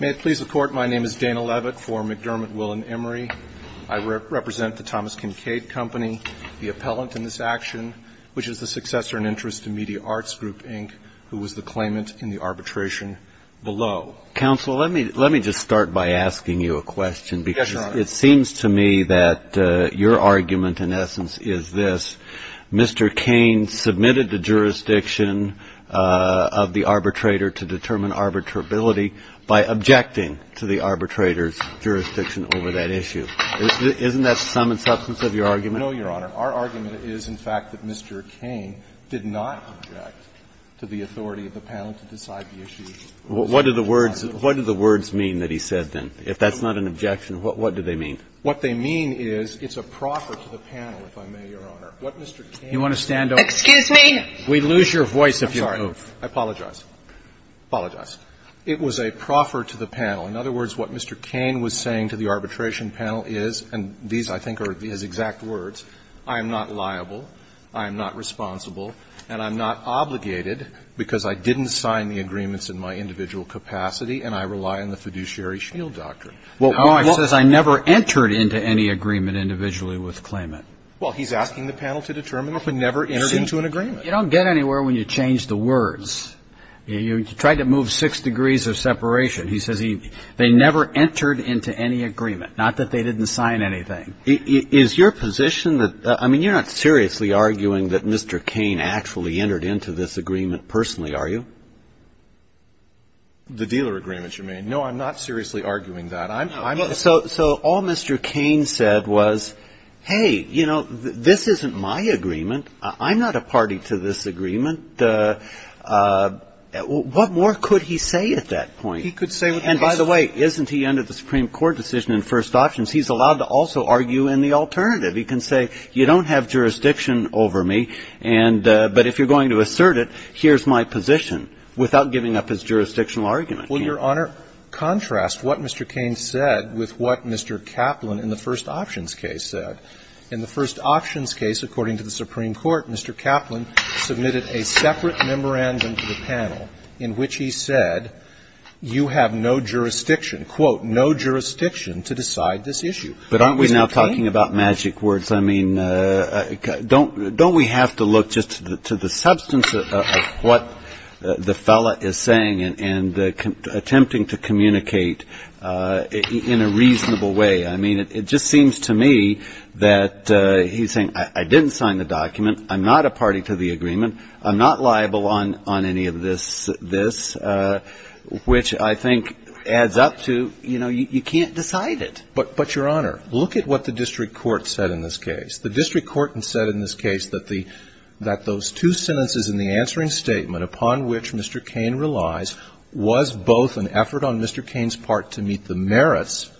May it please the Court, my name is Dana Levitt for McDermott, Will & Emory. I represent the Thomas Kinkade Company, the appellant in this action, which is the successor in interest to Media Arts Group, Inc., who was the claimant in the arbitration below. Counsel, let me just start by asking you a question. Yes, Your Honor. It seems to me that your argument, in essence, is this. Mr. Kayne submitted the jurisdiction of the arbitrator to determine arbitrability by objecting to the arbitrator's jurisdiction over that issue. Isn't that the sum and substance of your argument? No, Your Honor. Our argument is, in fact, that Mr. Kayne did not object to the authority of the panel to decide the issue. What do the words mean that he said then? If that's not an objection, what do they mean? What they mean is, it's a proffer to the panel, if I may, Your Honor. What Mr. Kayne is saying to the panel is, and these, I think, are his exact words, I am not liable, I am not responsible, and I'm not obligated, because I didn't sign the agreements in my individual capacity, and I rely on the fiduciary shield doctrine. Well, he's asking the panel to determine if he never entered into an agreement. You don't get anywhere when you change the words. You try to move six degrees of separation. He says they never entered into any agreement, not that they didn't sign anything. Is your position that, I mean, you're not seriously arguing that Mr. Kayne actually entered into this agreement personally, are you? The dealer agreement, you mean. No, I'm not seriously arguing that. So all Mr. Kayne said was, hey, you know, this isn't my agreement. I'm not a party to this agreement. What more could he say at that point? He could say what he wants. And by the way, isn't he under the Supreme Court decision in first options? He's allowed to also argue in the alternative. He can say, you don't have jurisdiction over me, but if you're going to assert it, here's my position, without giving up his jurisdictional argument. Well, Your Honor, contrast what Mr. Kayne said with what Mr. Kaplan in the first options case said. In the first options case, according to the Supreme Court, Mr. Kaplan submitted a separate memorandum to the panel in which he said, you have no jurisdiction, quote, no jurisdiction to decide this issue. But aren't we now talking about magic words? I mean, don't we have to look just to the substance of what the fellow is saying and attempting to communicate in a reasonable way? I mean, it just seems to me that he's saying, I didn't sign the document. I'm not a party to the agreement. I'm not liable on any of this, which I think adds up to, you know, you can't decide it. But, Your Honor, look at what the district court said in this case. The district court said that the two sentences in the answering statement upon which Mr. Kayne relies was both an effort on Mr. Kayne's part to meet the merits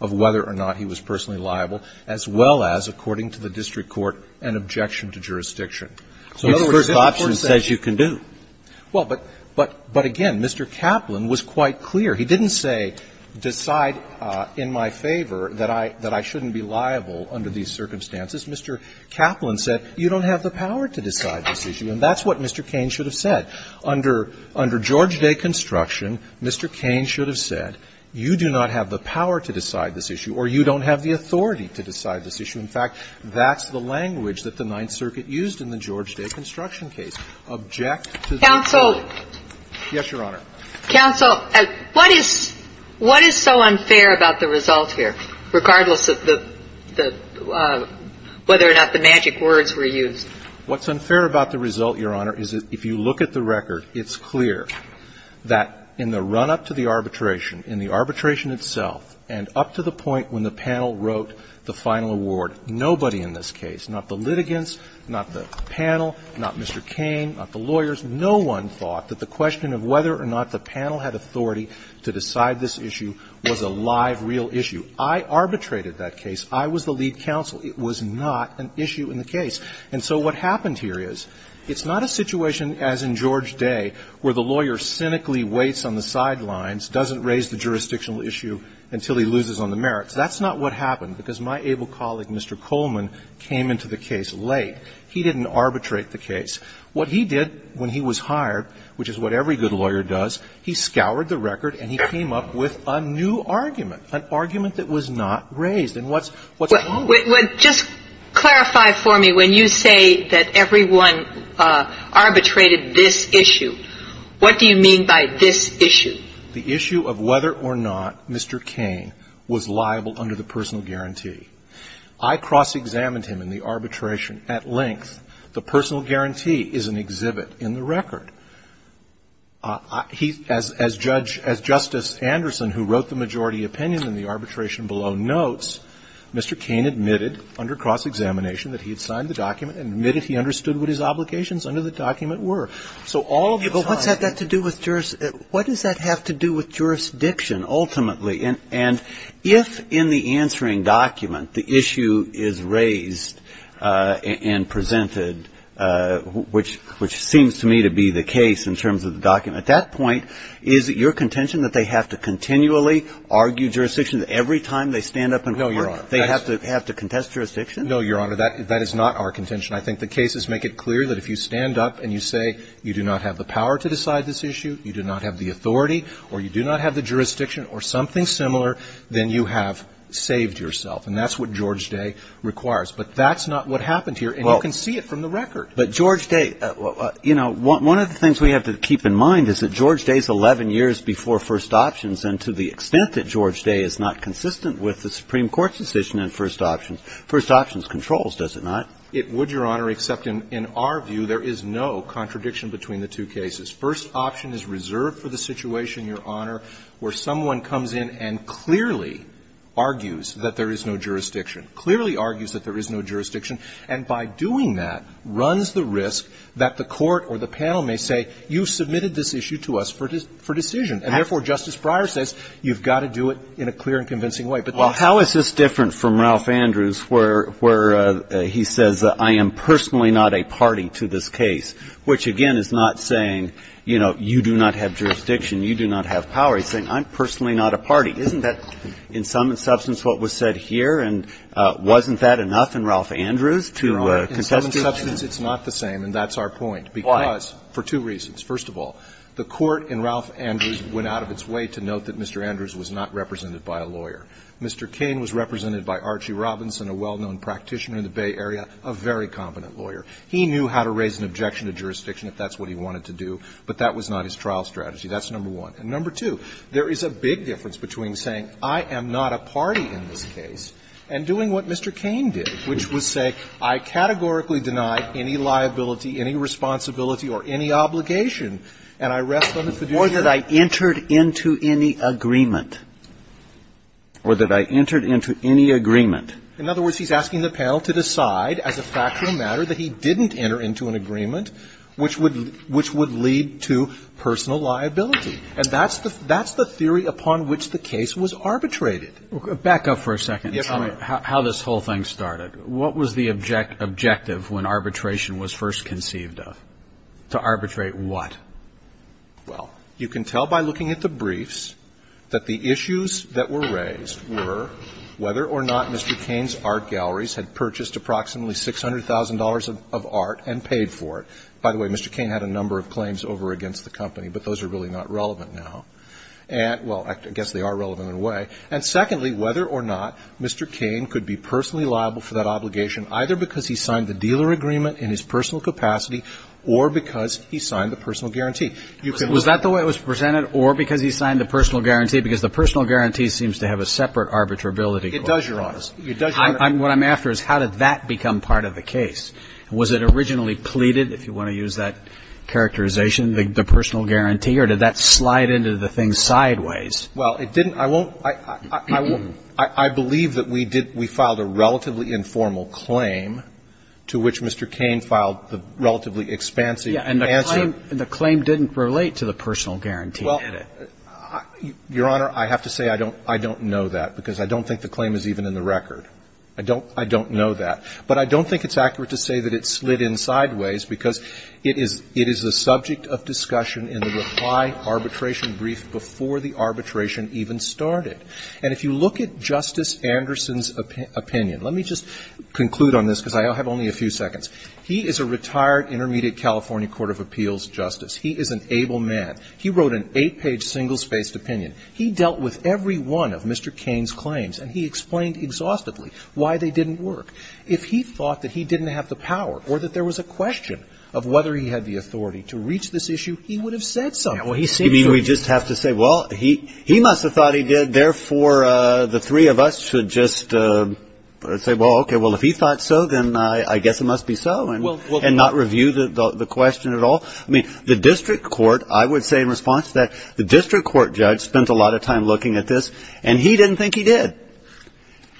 of whether or not he was personally liable, as well as, according to the district court, an objection to jurisdiction. So in other words, the first option says you can do. Well, but again, Mr. Kaplan was quite clear. He didn't say, decide in my favor that I shouldn't be liable under these circumstances. Mr. Kaplan said, you don't have the power to decide this issue. And that's what Mr. Kayne should have said. Under George Day construction, Mr. Kayne should have said, you do not have the power to decide this issue, or you don't have the authority to decide this issue. In fact, that's the language that the Ninth Circuit used in the George Day construction case, object to the decision. Yes, Your Honor. Counsel, what is so unfair about the result here, regardless of whether or not the magic words were used? What's unfair about the result, Your Honor, is if you look at the record, it's clear that in the run-up to the arbitration, in the arbitration itself, and up to the point when the panel wrote the final award, nobody in this case, not the litigants, not the panel, not Mr. Kayne, not the lawyers, no one thought that the question of whether or not the panel had authority to decide this issue was a live, real issue. I arbitrated that case. I was the lead counsel. It was not an issue in the case. And so what happened here is, it's not a situation as in George Day where the lawyer cynically waits on the sidelines, doesn't raise the jurisdictional issue until he loses on the merits. That's not what happened, because my able colleague, Mr. Coleman, came into the case late. He didn't arbitrate the case. What he did when he was hired, which is what every good lawyer does, he scoured the record and he came up with a new argument, an argument that was not raised. And what's wrong with that? Just clarify for me, when you say that everyone arbitrated this issue, what do you mean by this issue? The issue of whether or not Mr. Kayne was liable under the personal guarantee. I cross-examined him in the arbitration at length. The personal guarantee is an exhibit in the record. He, as Judge – as Justice Anderson, who wrote the majority opinion in the arbitration below, notes Mr. Kayne admitted under cross-examination that he had signed the document and admitted he understood what his obligations under the document were. So all of the time he was liable under cross-examination, but what's that got to do with jurisdiction? What does that have to do with jurisdiction ultimately? And if in the answering document the issue is raised and presented, which seems to me to be the case in terms of the document, at that point, is it your contention that they have to continually argue jurisdiction every time they stand up and vote? No, Your Honor. They have to contest jurisdiction? No, Your Honor, that is not our contention. I think the cases make it clear that if you stand up and you say you do not have the power to decide this issue, you do not have the authority, or you do not have the And if you've come up with a document that you think is very similar, then you have saved yourself. And that's what George Day requires. But that's not what happened here. Well. And you can see it from the record. But George Day, you know, one of the things we have to keep in mind is that George Day is 11 years before first options. And to the extent that George Day is not consistent with the Supreme Court's decision in first option, first options controls, does it not? It would, Your Honor, except in our view, there is no contradiction between the two cases. First option is reserved for the situation, Your Honor, where someone comes in and clearly argues that there is no jurisdiction, clearly argues that there is no jurisdiction, and by doing that, runs the risk that the court or the panel may say, you submitted this issue to us for decision. And therefore, Justice Breyer says, you've got to do it in a clear and convincing way. Well, how is this different from Ralph Andrews, where he says, I am personally not a party to this case, which, again, is not saying, you know, you do not have jurisdiction, you do not have power. He's saying, I'm personally not a party. Isn't that, in some substance, what was said here? And wasn't that enough in Ralph Andrews to contest it? Your Honor, in some substance, it's not the same. And that's our point. Why? Because, for two reasons. First of all, the court in Ralph Andrews went out of its way to note that Mr. Andrews was not represented by a lawyer. Mr. Cain was represented by Archie Robinson, a well-known practitioner in the Bay Area, a very competent lawyer. He knew how to raise an objection to jurisdiction if that's what he wanted to do, but that was not his trial strategy. That's number one. And number two, there is a big difference between saying, I am not a party in this case, and doing what Mr. Cain did, which was say, I categorically deny any liability, any responsibility, or any obligation, and I rest on the fiduciary. And that I entered into any agreement, or that I entered into any agreement. In other words, he's asking the panel to decide, as a fact or a matter, that he didn't enter into an agreement, which would lead to personal liability. And that's the theory upon which the case was arbitrated. Back up for a second. Yes, Your Honor. How this whole thing started. What was the objective when arbitration was first conceived of? To arbitrate what? Well, you can tell by looking at the briefs that the issues that were raised were whether or not Mr. Cain's art galleries had purchased approximately $600,000 of art and paid for it. By the way, Mr. Cain had a number of claims over against the company, but those are really not relevant now. And, well, I guess they are relevant in a way. And secondly, whether or not Mr. Cain could be personally liable for that obligation, either because he signed the dealer agreement in his personal capacity, or because he signed the personal guarantee. Was that the way it was presented, or because he signed the personal guarantee? Because the personal guarantee seems to have a separate arbitrability clause. It does, Your Honor. It does, Your Honor. What I'm after is how did that become part of the case? Was it originally pleaded, if you want to use that characterization, the personal guarantee, or did that slide into the thing sideways? Well, it didn't. I won't. I believe that we did we filed a relatively informal claim to which Mr. Cain filed the relatively expansive claim. And the claim didn't relate to the personal guarantee, did it? Well, Your Honor, I have to say I don't know that, because I don't think the claim is even in the record. I don't know that. But I don't think it's accurate to say that it slid in sideways, because it is a subject of discussion in the reply arbitration brief before the arbitration even started. And if you look at Justice Anderson's opinion, let me just conclude on this, because I have only a few seconds. He is a retired intermediate California court of appeals justice. He is an able man. He wrote an eight-page, single-spaced opinion. He dealt with every one of Mr. Cain's claims, and he explained exhaustively why they didn't work. If he thought that he didn't have the power or that there was a question of whether he had the authority to reach this issue, he would have said something. Yeah, well, he seemed to. I mean, we just have to say, well, he must have thought he did. Therefore, the three of us should just say, well, okay, well, if he thought so, then I guess it must be so, and not review the question at all. I mean, the district court, I would say in response to that, the district court judge spent a lot of time looking at this, and he didn't think he did,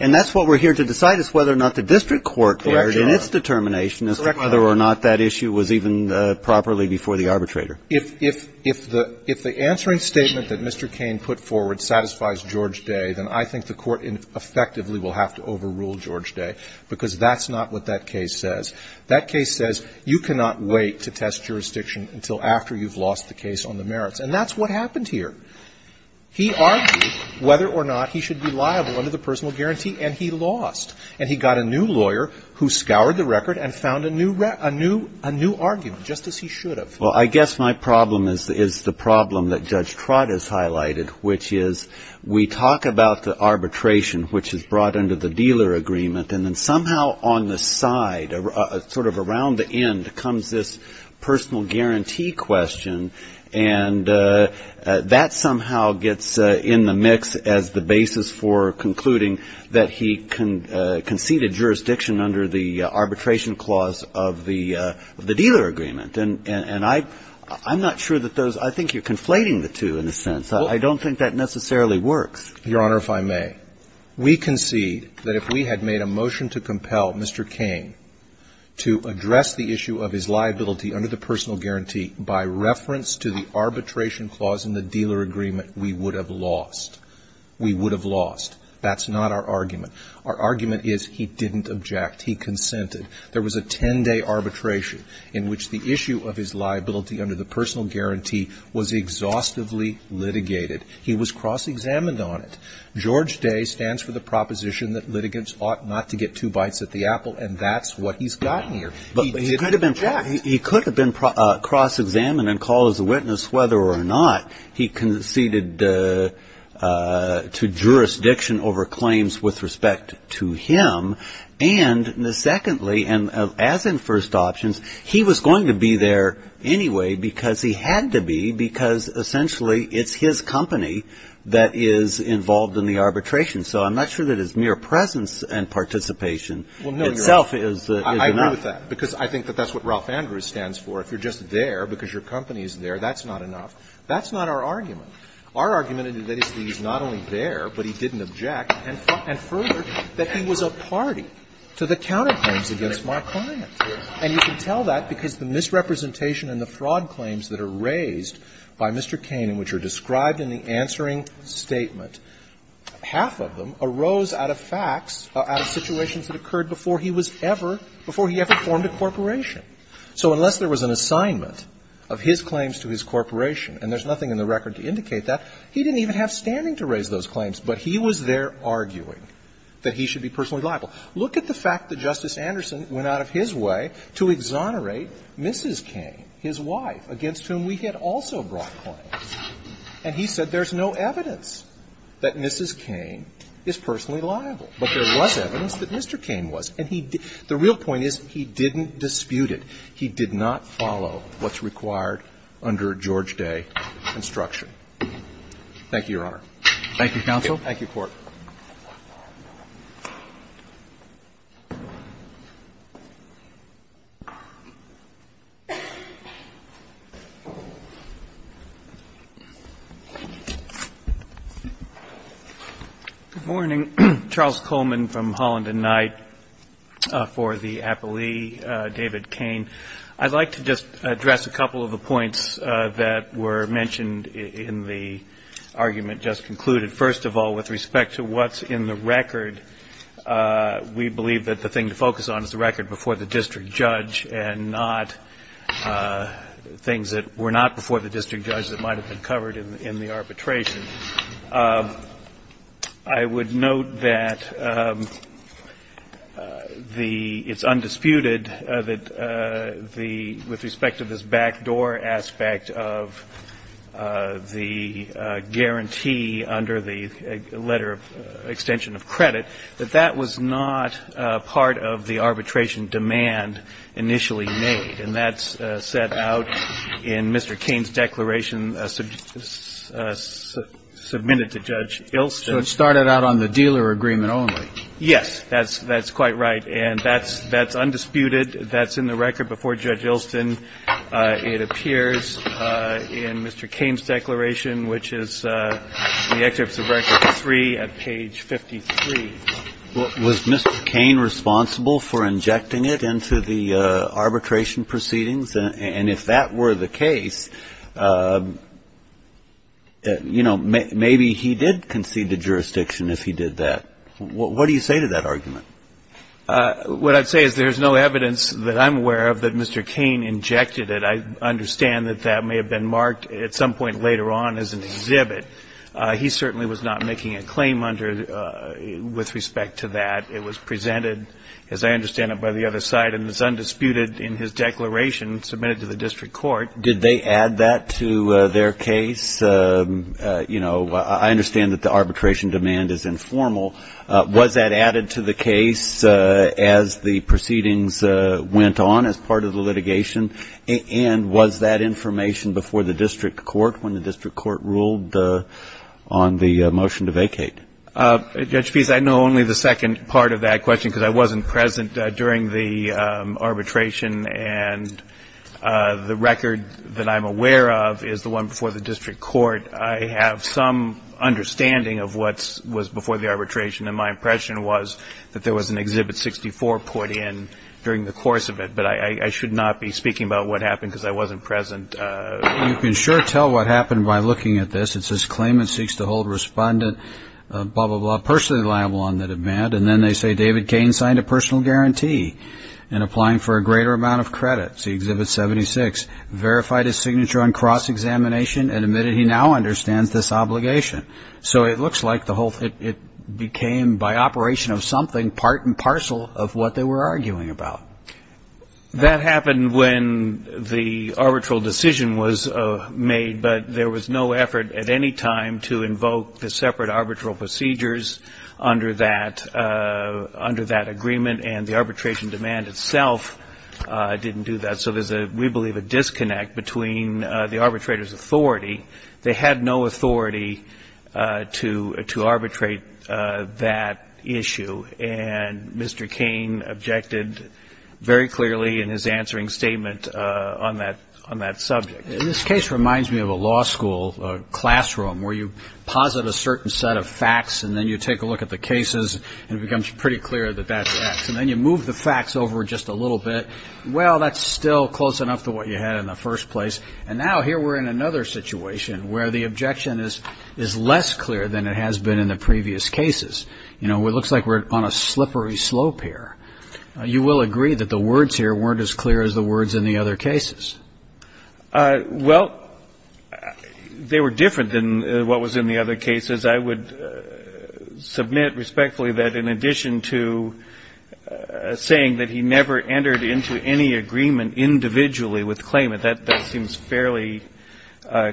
and that's what we're here to decide, is whether or not the district court, in its determination, as to whether or not that issue was even properly before the arbitrator. If the answering statement that Mr. Cain put forward satisfies George Day, then I think the court effectively will have to overrule George Day, because that's not what that case says. That case says you cannot wait to test jurisdiction until after you've lost the case on the merits, and that's what happened here. He argued whether or not he should be liable under the personal guarantee, and he lost, and he got a new lawyer who scoured the record and found a new argument, just as he should have. Well, I guess my problem is the problem that Judge Trott has highlighted, which is we talk about the arbitration which is brought under the dealer agreement and then somehow on the side, sort of around the end, comes this personal guarantee question, and that somehow gets in the mix as the basis for concluding that he conceded jurisdiction under the arbitration clause of the dealer agreement. And I'm not sure that those – I think you're conflating the two in a sense. I don't think that necessarily works. Your Honor, if I may, we concede that if we had made a motion to make a deal with George Day, if we had made a motion to compel Mr. King to address the issue of his liability under the personal guarantee by reference to the arbitration clause in the dealer agreement, we would have lost. We would have lost. That's not our argument. Our argument is he didn't object, he consented. There was a 10-day arbitration in which the issue of his liability under the personal guarantee was exhaustively litigated. He was cross-examined on it. George Day stands for the proposition that litigants ought not to get two bites at the apple, and that's what he's got here. He didn't object. But he could have been cross-examined and called as a witness whether or not he conceded to jurisdiction over claims with respect to him. And secondly, and as in first options, he was going to be there anyway because he had to be, because essentially it's his company that is involved in the arbitration. So I'm not sure that his mere presence and participation itself is enough. I agree with that, because I think that that's what Ralph Andrews stands for. If you're just there because your company is there, that's not enough. That's not our argument. Our argument is that he's not only there, but he didn't object, and further, that he was a party to the counterclaims against my client. And you can tell that because the misrepresentation and the fraud claims that are raised by Mr. Cain, which are described in the answering statement, half of them arose out of facts, out of situations that occurred before he was ever, before he ever formed a corporation. So unless there was an assignment of his claims to his corporation, and there's nothing in the record to indicate that, he didn't even have standing to raise those claims, but he was there arguing that he should be personally liable. Look at the fact that Justice Anderson went out of his way to exonerate Mrs. Cain, his wife, against whom we had also brought claims. And he said there's no evidence that Mrs. Cain is personally liable. But there was evidence that Mr. Cain was. And he didn't – the real point is he didn't dispute it. He did not follow what's required under George Day construction. Thank you, Your Honor. Roberts. Thank you, counsel. Thank you, Court. Good morning. Charles Coleman from Holland and Knight for the appellee, David Cain. I'd like to just address a couple of the points that were mentioned in the argument just concluded. First of all, with respect to what's in the record, we believe that the thing to focus on is the record before the district judge and not things that were not before the district judge that might have been covered in the arbitration. I would note that the – it's undisputed that the – with respect to this backdoor aspect of the guarantee under the letter of extension of credit, that that was not part of the arbitration demand initially made. And that's set out in Mr. Cain's declaration submitted to Judge Ilston. So it started out on the dealer agreement only. Yes. That's quite right. And that's undisputed. That's in the record before Judge Ilston. It appears in Mr. Cain's declaration, which is in the excerpts of record three at page 53. Was Mr. Cain responsible for injecting it into the arbitration proceedings? And if that were the case, you know, maybe he did concede to jurisdiction if he did What do you say to that argument? What I'd say is there's no evidence that I'm aware of that Mr. Cain injected it. I understand that that may have been marked at some point later on as an exhibit. He certainly was not making a claim under – with respect to that. It was presented, as I understand it, by the other side. And it's undisputed in his declaration submitted to the district court. Did they add that to their case? You know, I understand that the arbitration demand is informal. Was that added to the case as the proceedings went on as part of the litigation? And was that information before the district court when the district court ruled on the motion to vacate? Judge Pease, I know only the second part of that question because I wasn't present during the arbitration. And the record that I'm aware of is the one before the district court. I have some understanding of what was before the arbitration. And my impression was that there was an Exhibit 64 put in during the course of it. But I should not be speaking about what happened because I wasn't present. You can sure tell what happened by looking at this. It says claimant seeks to hold respondent blah, blah, blah, personally liable on the demand. And then they say David Cain signed a personal guarantee in applying for a greater amount of credit. See Exhibit 76. Verified his signature on cross-examination and admitted he now understands this obligation. So it looks like the whole thing became, by operation of something, part and parcel of what they were arguing about. That happened when the arbitral decision was made, but there was no effort at any time to invoke the separate arbitral procedures under that agreement. And the arbitration demand itself didn't do that. So there's, we believe, a disconnect between the arbitrator's authority. They had no authority to arbitrate that issue. And Mr. Cain objected very clearly in his answering statement on that subject. This case reminds me of a law school classroom where you posit a certain set of facts and then you take a look at the cases and it becomes pretty clear that that's X. And then you move the facts over just a little bit. Well, that's still close enough to what you had in the first place. And now here we're in another situation where the objection is less clear than it has been in the previous cases. You know, it looks like we're on a slippery slope here. You will agree that the words here weren't as clear as the words in the other cases. Well, they were different than what was in the other cases. I would submit respectfully that in addition to saying that he never entered into any agreement individually with claimant, that seems fairly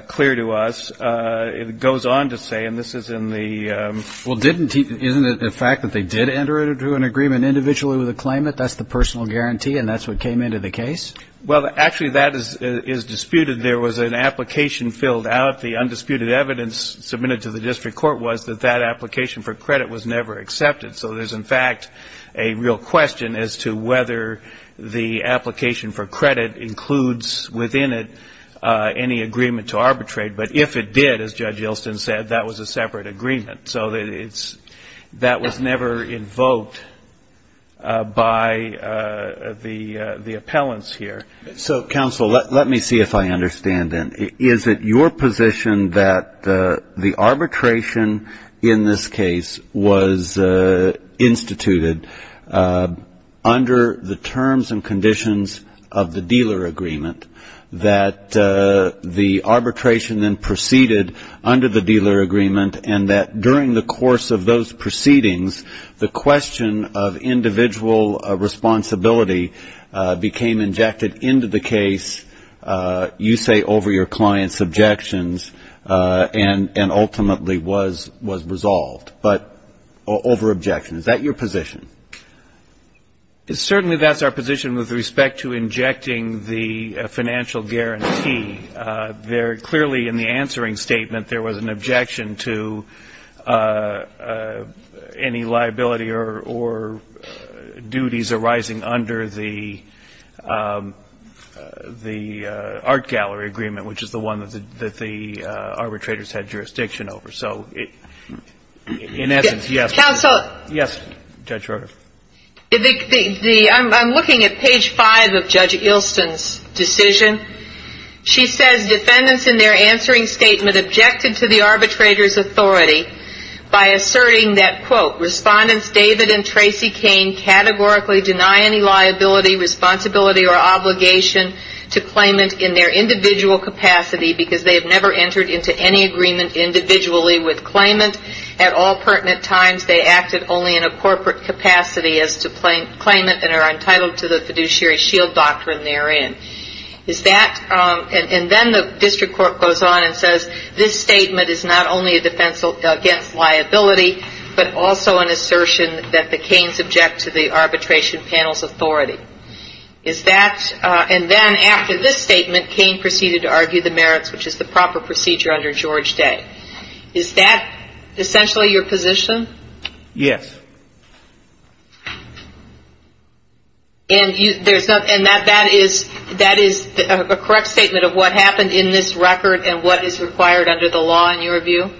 clear to us. It goes on to say, and this is in the ---- Well, didn't he, isn't it a fact that they did enter into an agreement individually with a claimant? That's the personal guarantee and that's what came into the case? Well, actually that is disputed. There was an application filled out. The undisputed evidence submitted to the district court was that that application for credit was never accepted. So there's, in fact, a real question as to whether the application for credit includes within it any agreement to arbitrate. But if it did, as Judge Yelston said, that was a separate agreement. So that was never invoked by the appellants here. So, counsel, let me see if I understand then. Is it your position that the arbitration in this case was instituted under the terms and conditions of the dealer agreement, that the arbitration then proceeded under the dealer agreement, and that during the course of those proceedings the question of individual responsibility became injected into the case, you say over your client's objections, and ultimately was resolved? But over objections, is that your position? Certainly that's our position with respect to injecting the financial guarantee. Clearly in the answering statement there was an objection to any liability or duties arising under the art gallery agreement, which is the one that the arbitrators had jurisdiction over. So, in essence, yes. Counsel? Yes, Judge Roeder. I'm looking at page five of Judge Yelston's decision. She says defendants in their answering statement objected to the arbitrator's authority by asserting that, quote, Respondents David and Tracy Cain categorically deny any liability, responsibility, or obligation to claimant in their individual capacity because they have never entered into any agreement individually with claimant. At all pertinent times they acted only in a corporate capacity as to claimant and are entitled to the fiduciary shield doctrine therein. Is that, and then the district court goes on and says this statement is not only a defense against liability, but also an assertion that the Cains object to the arbitration panel's authority. Is that, and then after this statement Cain proceeded to argue the merits, which is the proper procedure under George Day. Is that essentially your position? Yes. And that is a correct statement of what happened in this record and what is required under the law in your view?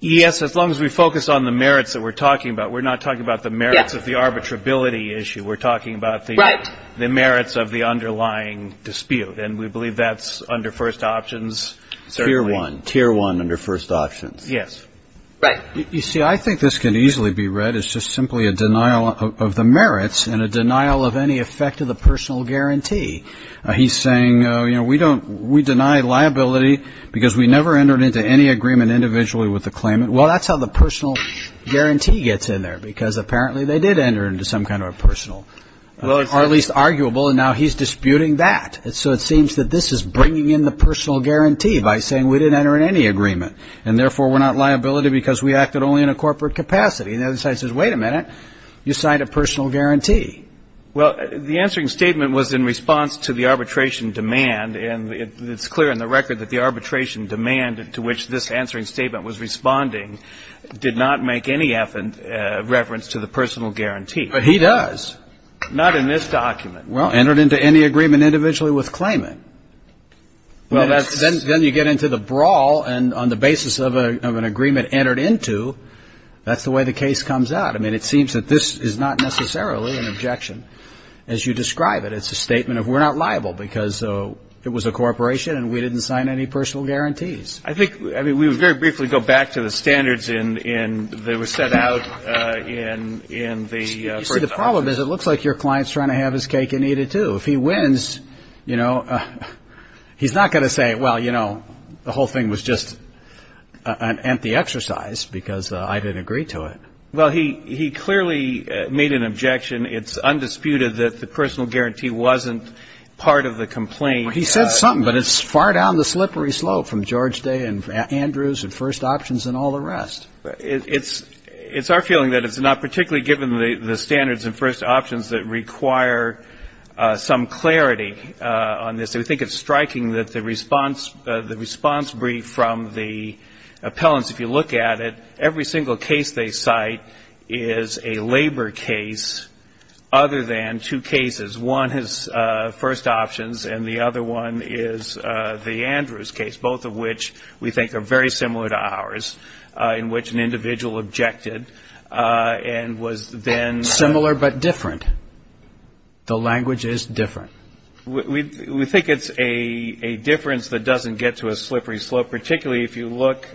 Yes, as long as we focus on the merits that we're talking about. We're not talking about the merits of the arbitrability issue. We're talking about the merits of the underlying dispute. And we believe that's under first options. Tier one. Tier one under first options. Yes. Right. You see, I think this can easily be read as just simply a denial of the merits and a denial of any effect of the personal guarantee. He's saying, you know, we deny liability because we never entered into any agreement individually with the claimant. Well, that's how the personal guarantee gets in there because apparently they did enter into some kind of a personal, or at least arguable, and now he's disputing that. So it seems that this is bringing in the personal guarantee by saying we didn't enter in any agreement and therefore we're not liability because we acted only in a corporate capacity. And the other side says, wait a minute, you signed a personal guarantee. Well, the answering statement was in response to the arbitration demand, and it's clear in the record that the arbitration demand to which this answering statement was responding did not make any reference to the personal guarantee. But he does. Not in this document. Well, entered into any agreement individually with claimant. Then you get into the brawl, and on the basis of an agreement entered into, that's the way the case comes out. I mean, it seems that this is not necessarily an objection as you describe it. It's a statement of we're not liable because it was a corporation and we didn't sign any personal guarantees. I think, I mean, we would very briefly go back to the standards that were set out in the first document. But it looks like your client is trying to have his cake and eat it, too. If he wins, you know, he's not going to say, well, you know, the whole thing was just an empty exercise because I didn't agree to it. Well, he clearly made an objection. It's undisputed that the personal guarantee wasn't part of the complaint. He said something, but it's far down the slippery slope from George Day and Andrews and first options and all the rest. It's our feeling that it's not particularly given the standards and first options that require some clarity on this. We think it's striking that the response brief from the appellants, if you look at it, every single case they cite is a labor case other than two cases. One is first options, and the other one is the Andrews case, both of which we think are very similar to ours, in which an individual objected and was then. Similar but different. The language is different. We think it's a difference that doesn't get to a slippery slope, particularly if you look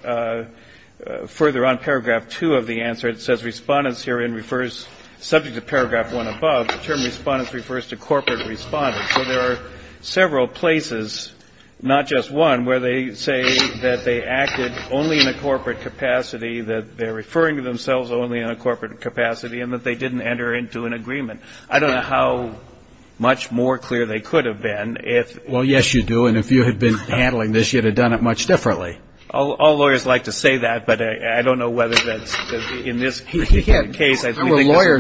further on paragraph two of the answer. It says respondents herein refers, subject to paragraph one above, the term respondents refers to corporate respondents. So there are several places, not just one, where they say that they acted only in a corporate capacity, that they're referring to themselves only in a corporate capacity, and that they didn't enter into an agreement. I don't know how much more clear they could have been if. Well, yes, you do. And if you had been handling this, you'd have done it much differently. All lawyers like to say that, but I don't know whether that's in this case. I think it's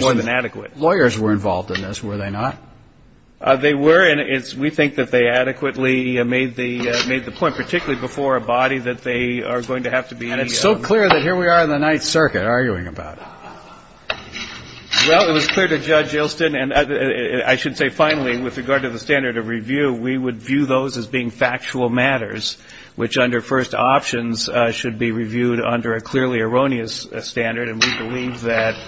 more than adequate. Lawyers were involved in this, were they not? They were. And we think that they adequately made the point, particularly before a body, that they are going to have to be. And it's so clear that here we are in the Ninth Circuit arguing about it. Well, it was clear to Judge Ilston. And I should say, finally, with regard to the standard of review, we would view those as being factual matters, which under first options should be reviewed under a clearly erroneous standard. And we believe that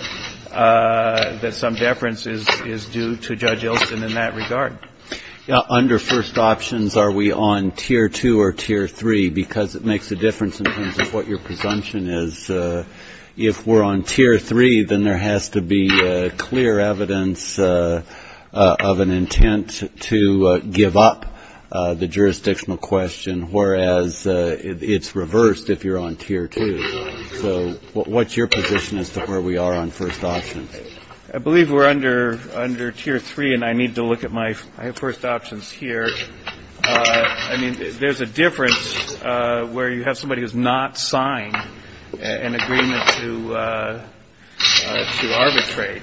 some deference is due to Judge Ilston in that regard. Under first options, are we on Tier 2 or Tier 3? Because it makes a difference in terms of what your presumption is. If we're on Tier 3, then there has to be clear evidence of an intent to give up the jurisdictional question, whereas it's reversed if you're on Tier 2. So what's your position as to where we are on first options? I believe we're under Tier 3, and I need to look at my first options here. I mean, there's a difference where you have somebody who's not signed an agreement to arbitrate.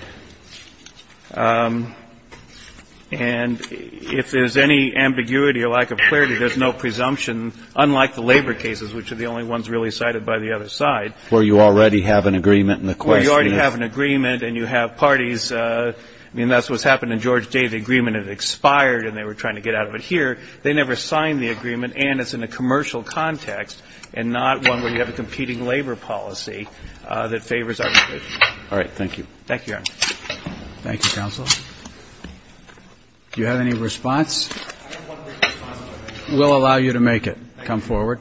And if there's any ambiguity or lack of clarity, there's no presumption, unlike the labor cases, which are the only ones really cited by the other side. Where you already have an agreement, and the question is? Where you already have an agreement, and you have parties. I mean, that's what's happened in George Day. The agreement had expired, and they were trying to get out of it here. They never signed the agreement, and it's in a commercial context, and not one where you have a competing labor policy that favors arbitration. All right. Thank you. Thank you, Your Honor. Thank you, counsel. Do you have any response? We'll allow you to make it. Come forward.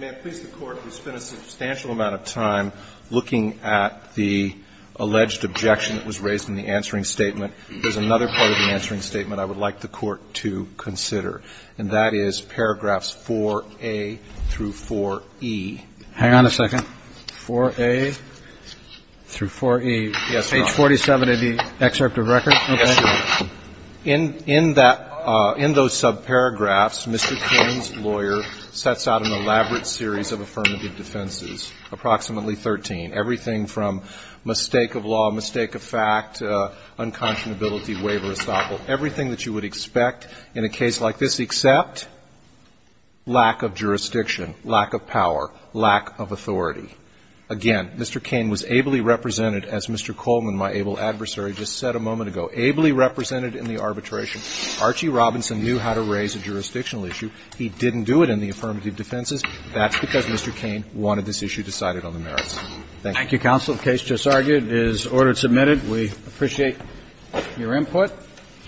May I please, the Court, who spent a substantial amount of time looking at the alleged objection that was raised in the answering statement, there's another part of the answering statement I would like the Court to consider, and that is paragraphs 4A through 4E. Hang on a second. 4A through 4E. Yes, Your Honor. Page 47 of the excerpt of record? Yes, Your Honor. In that, in those subparagraphs, Mr. Cain's lawyer sets out an elaborate series of affirmative defenses, approximately 13, everything from mistake of law, mistake of fact, unconscionability, waiver, estoppel, everything that you would expect in a case like this except lack of jurisdiction, lack of power, lack of authority. Again, Mr. Cain was ably represented, as Mr. Coleman, my able adversary, just said a moment ago, ably represented in the arbitration. Archie Robinson knew how to raise a jurisdictional issue. He didn't do it in the affirmative defenses. That's because Mr. Cain wanted this issue decided on the merits. Thank you. Thank you, counsel. The case just argued is order submitted. We appreciate your input.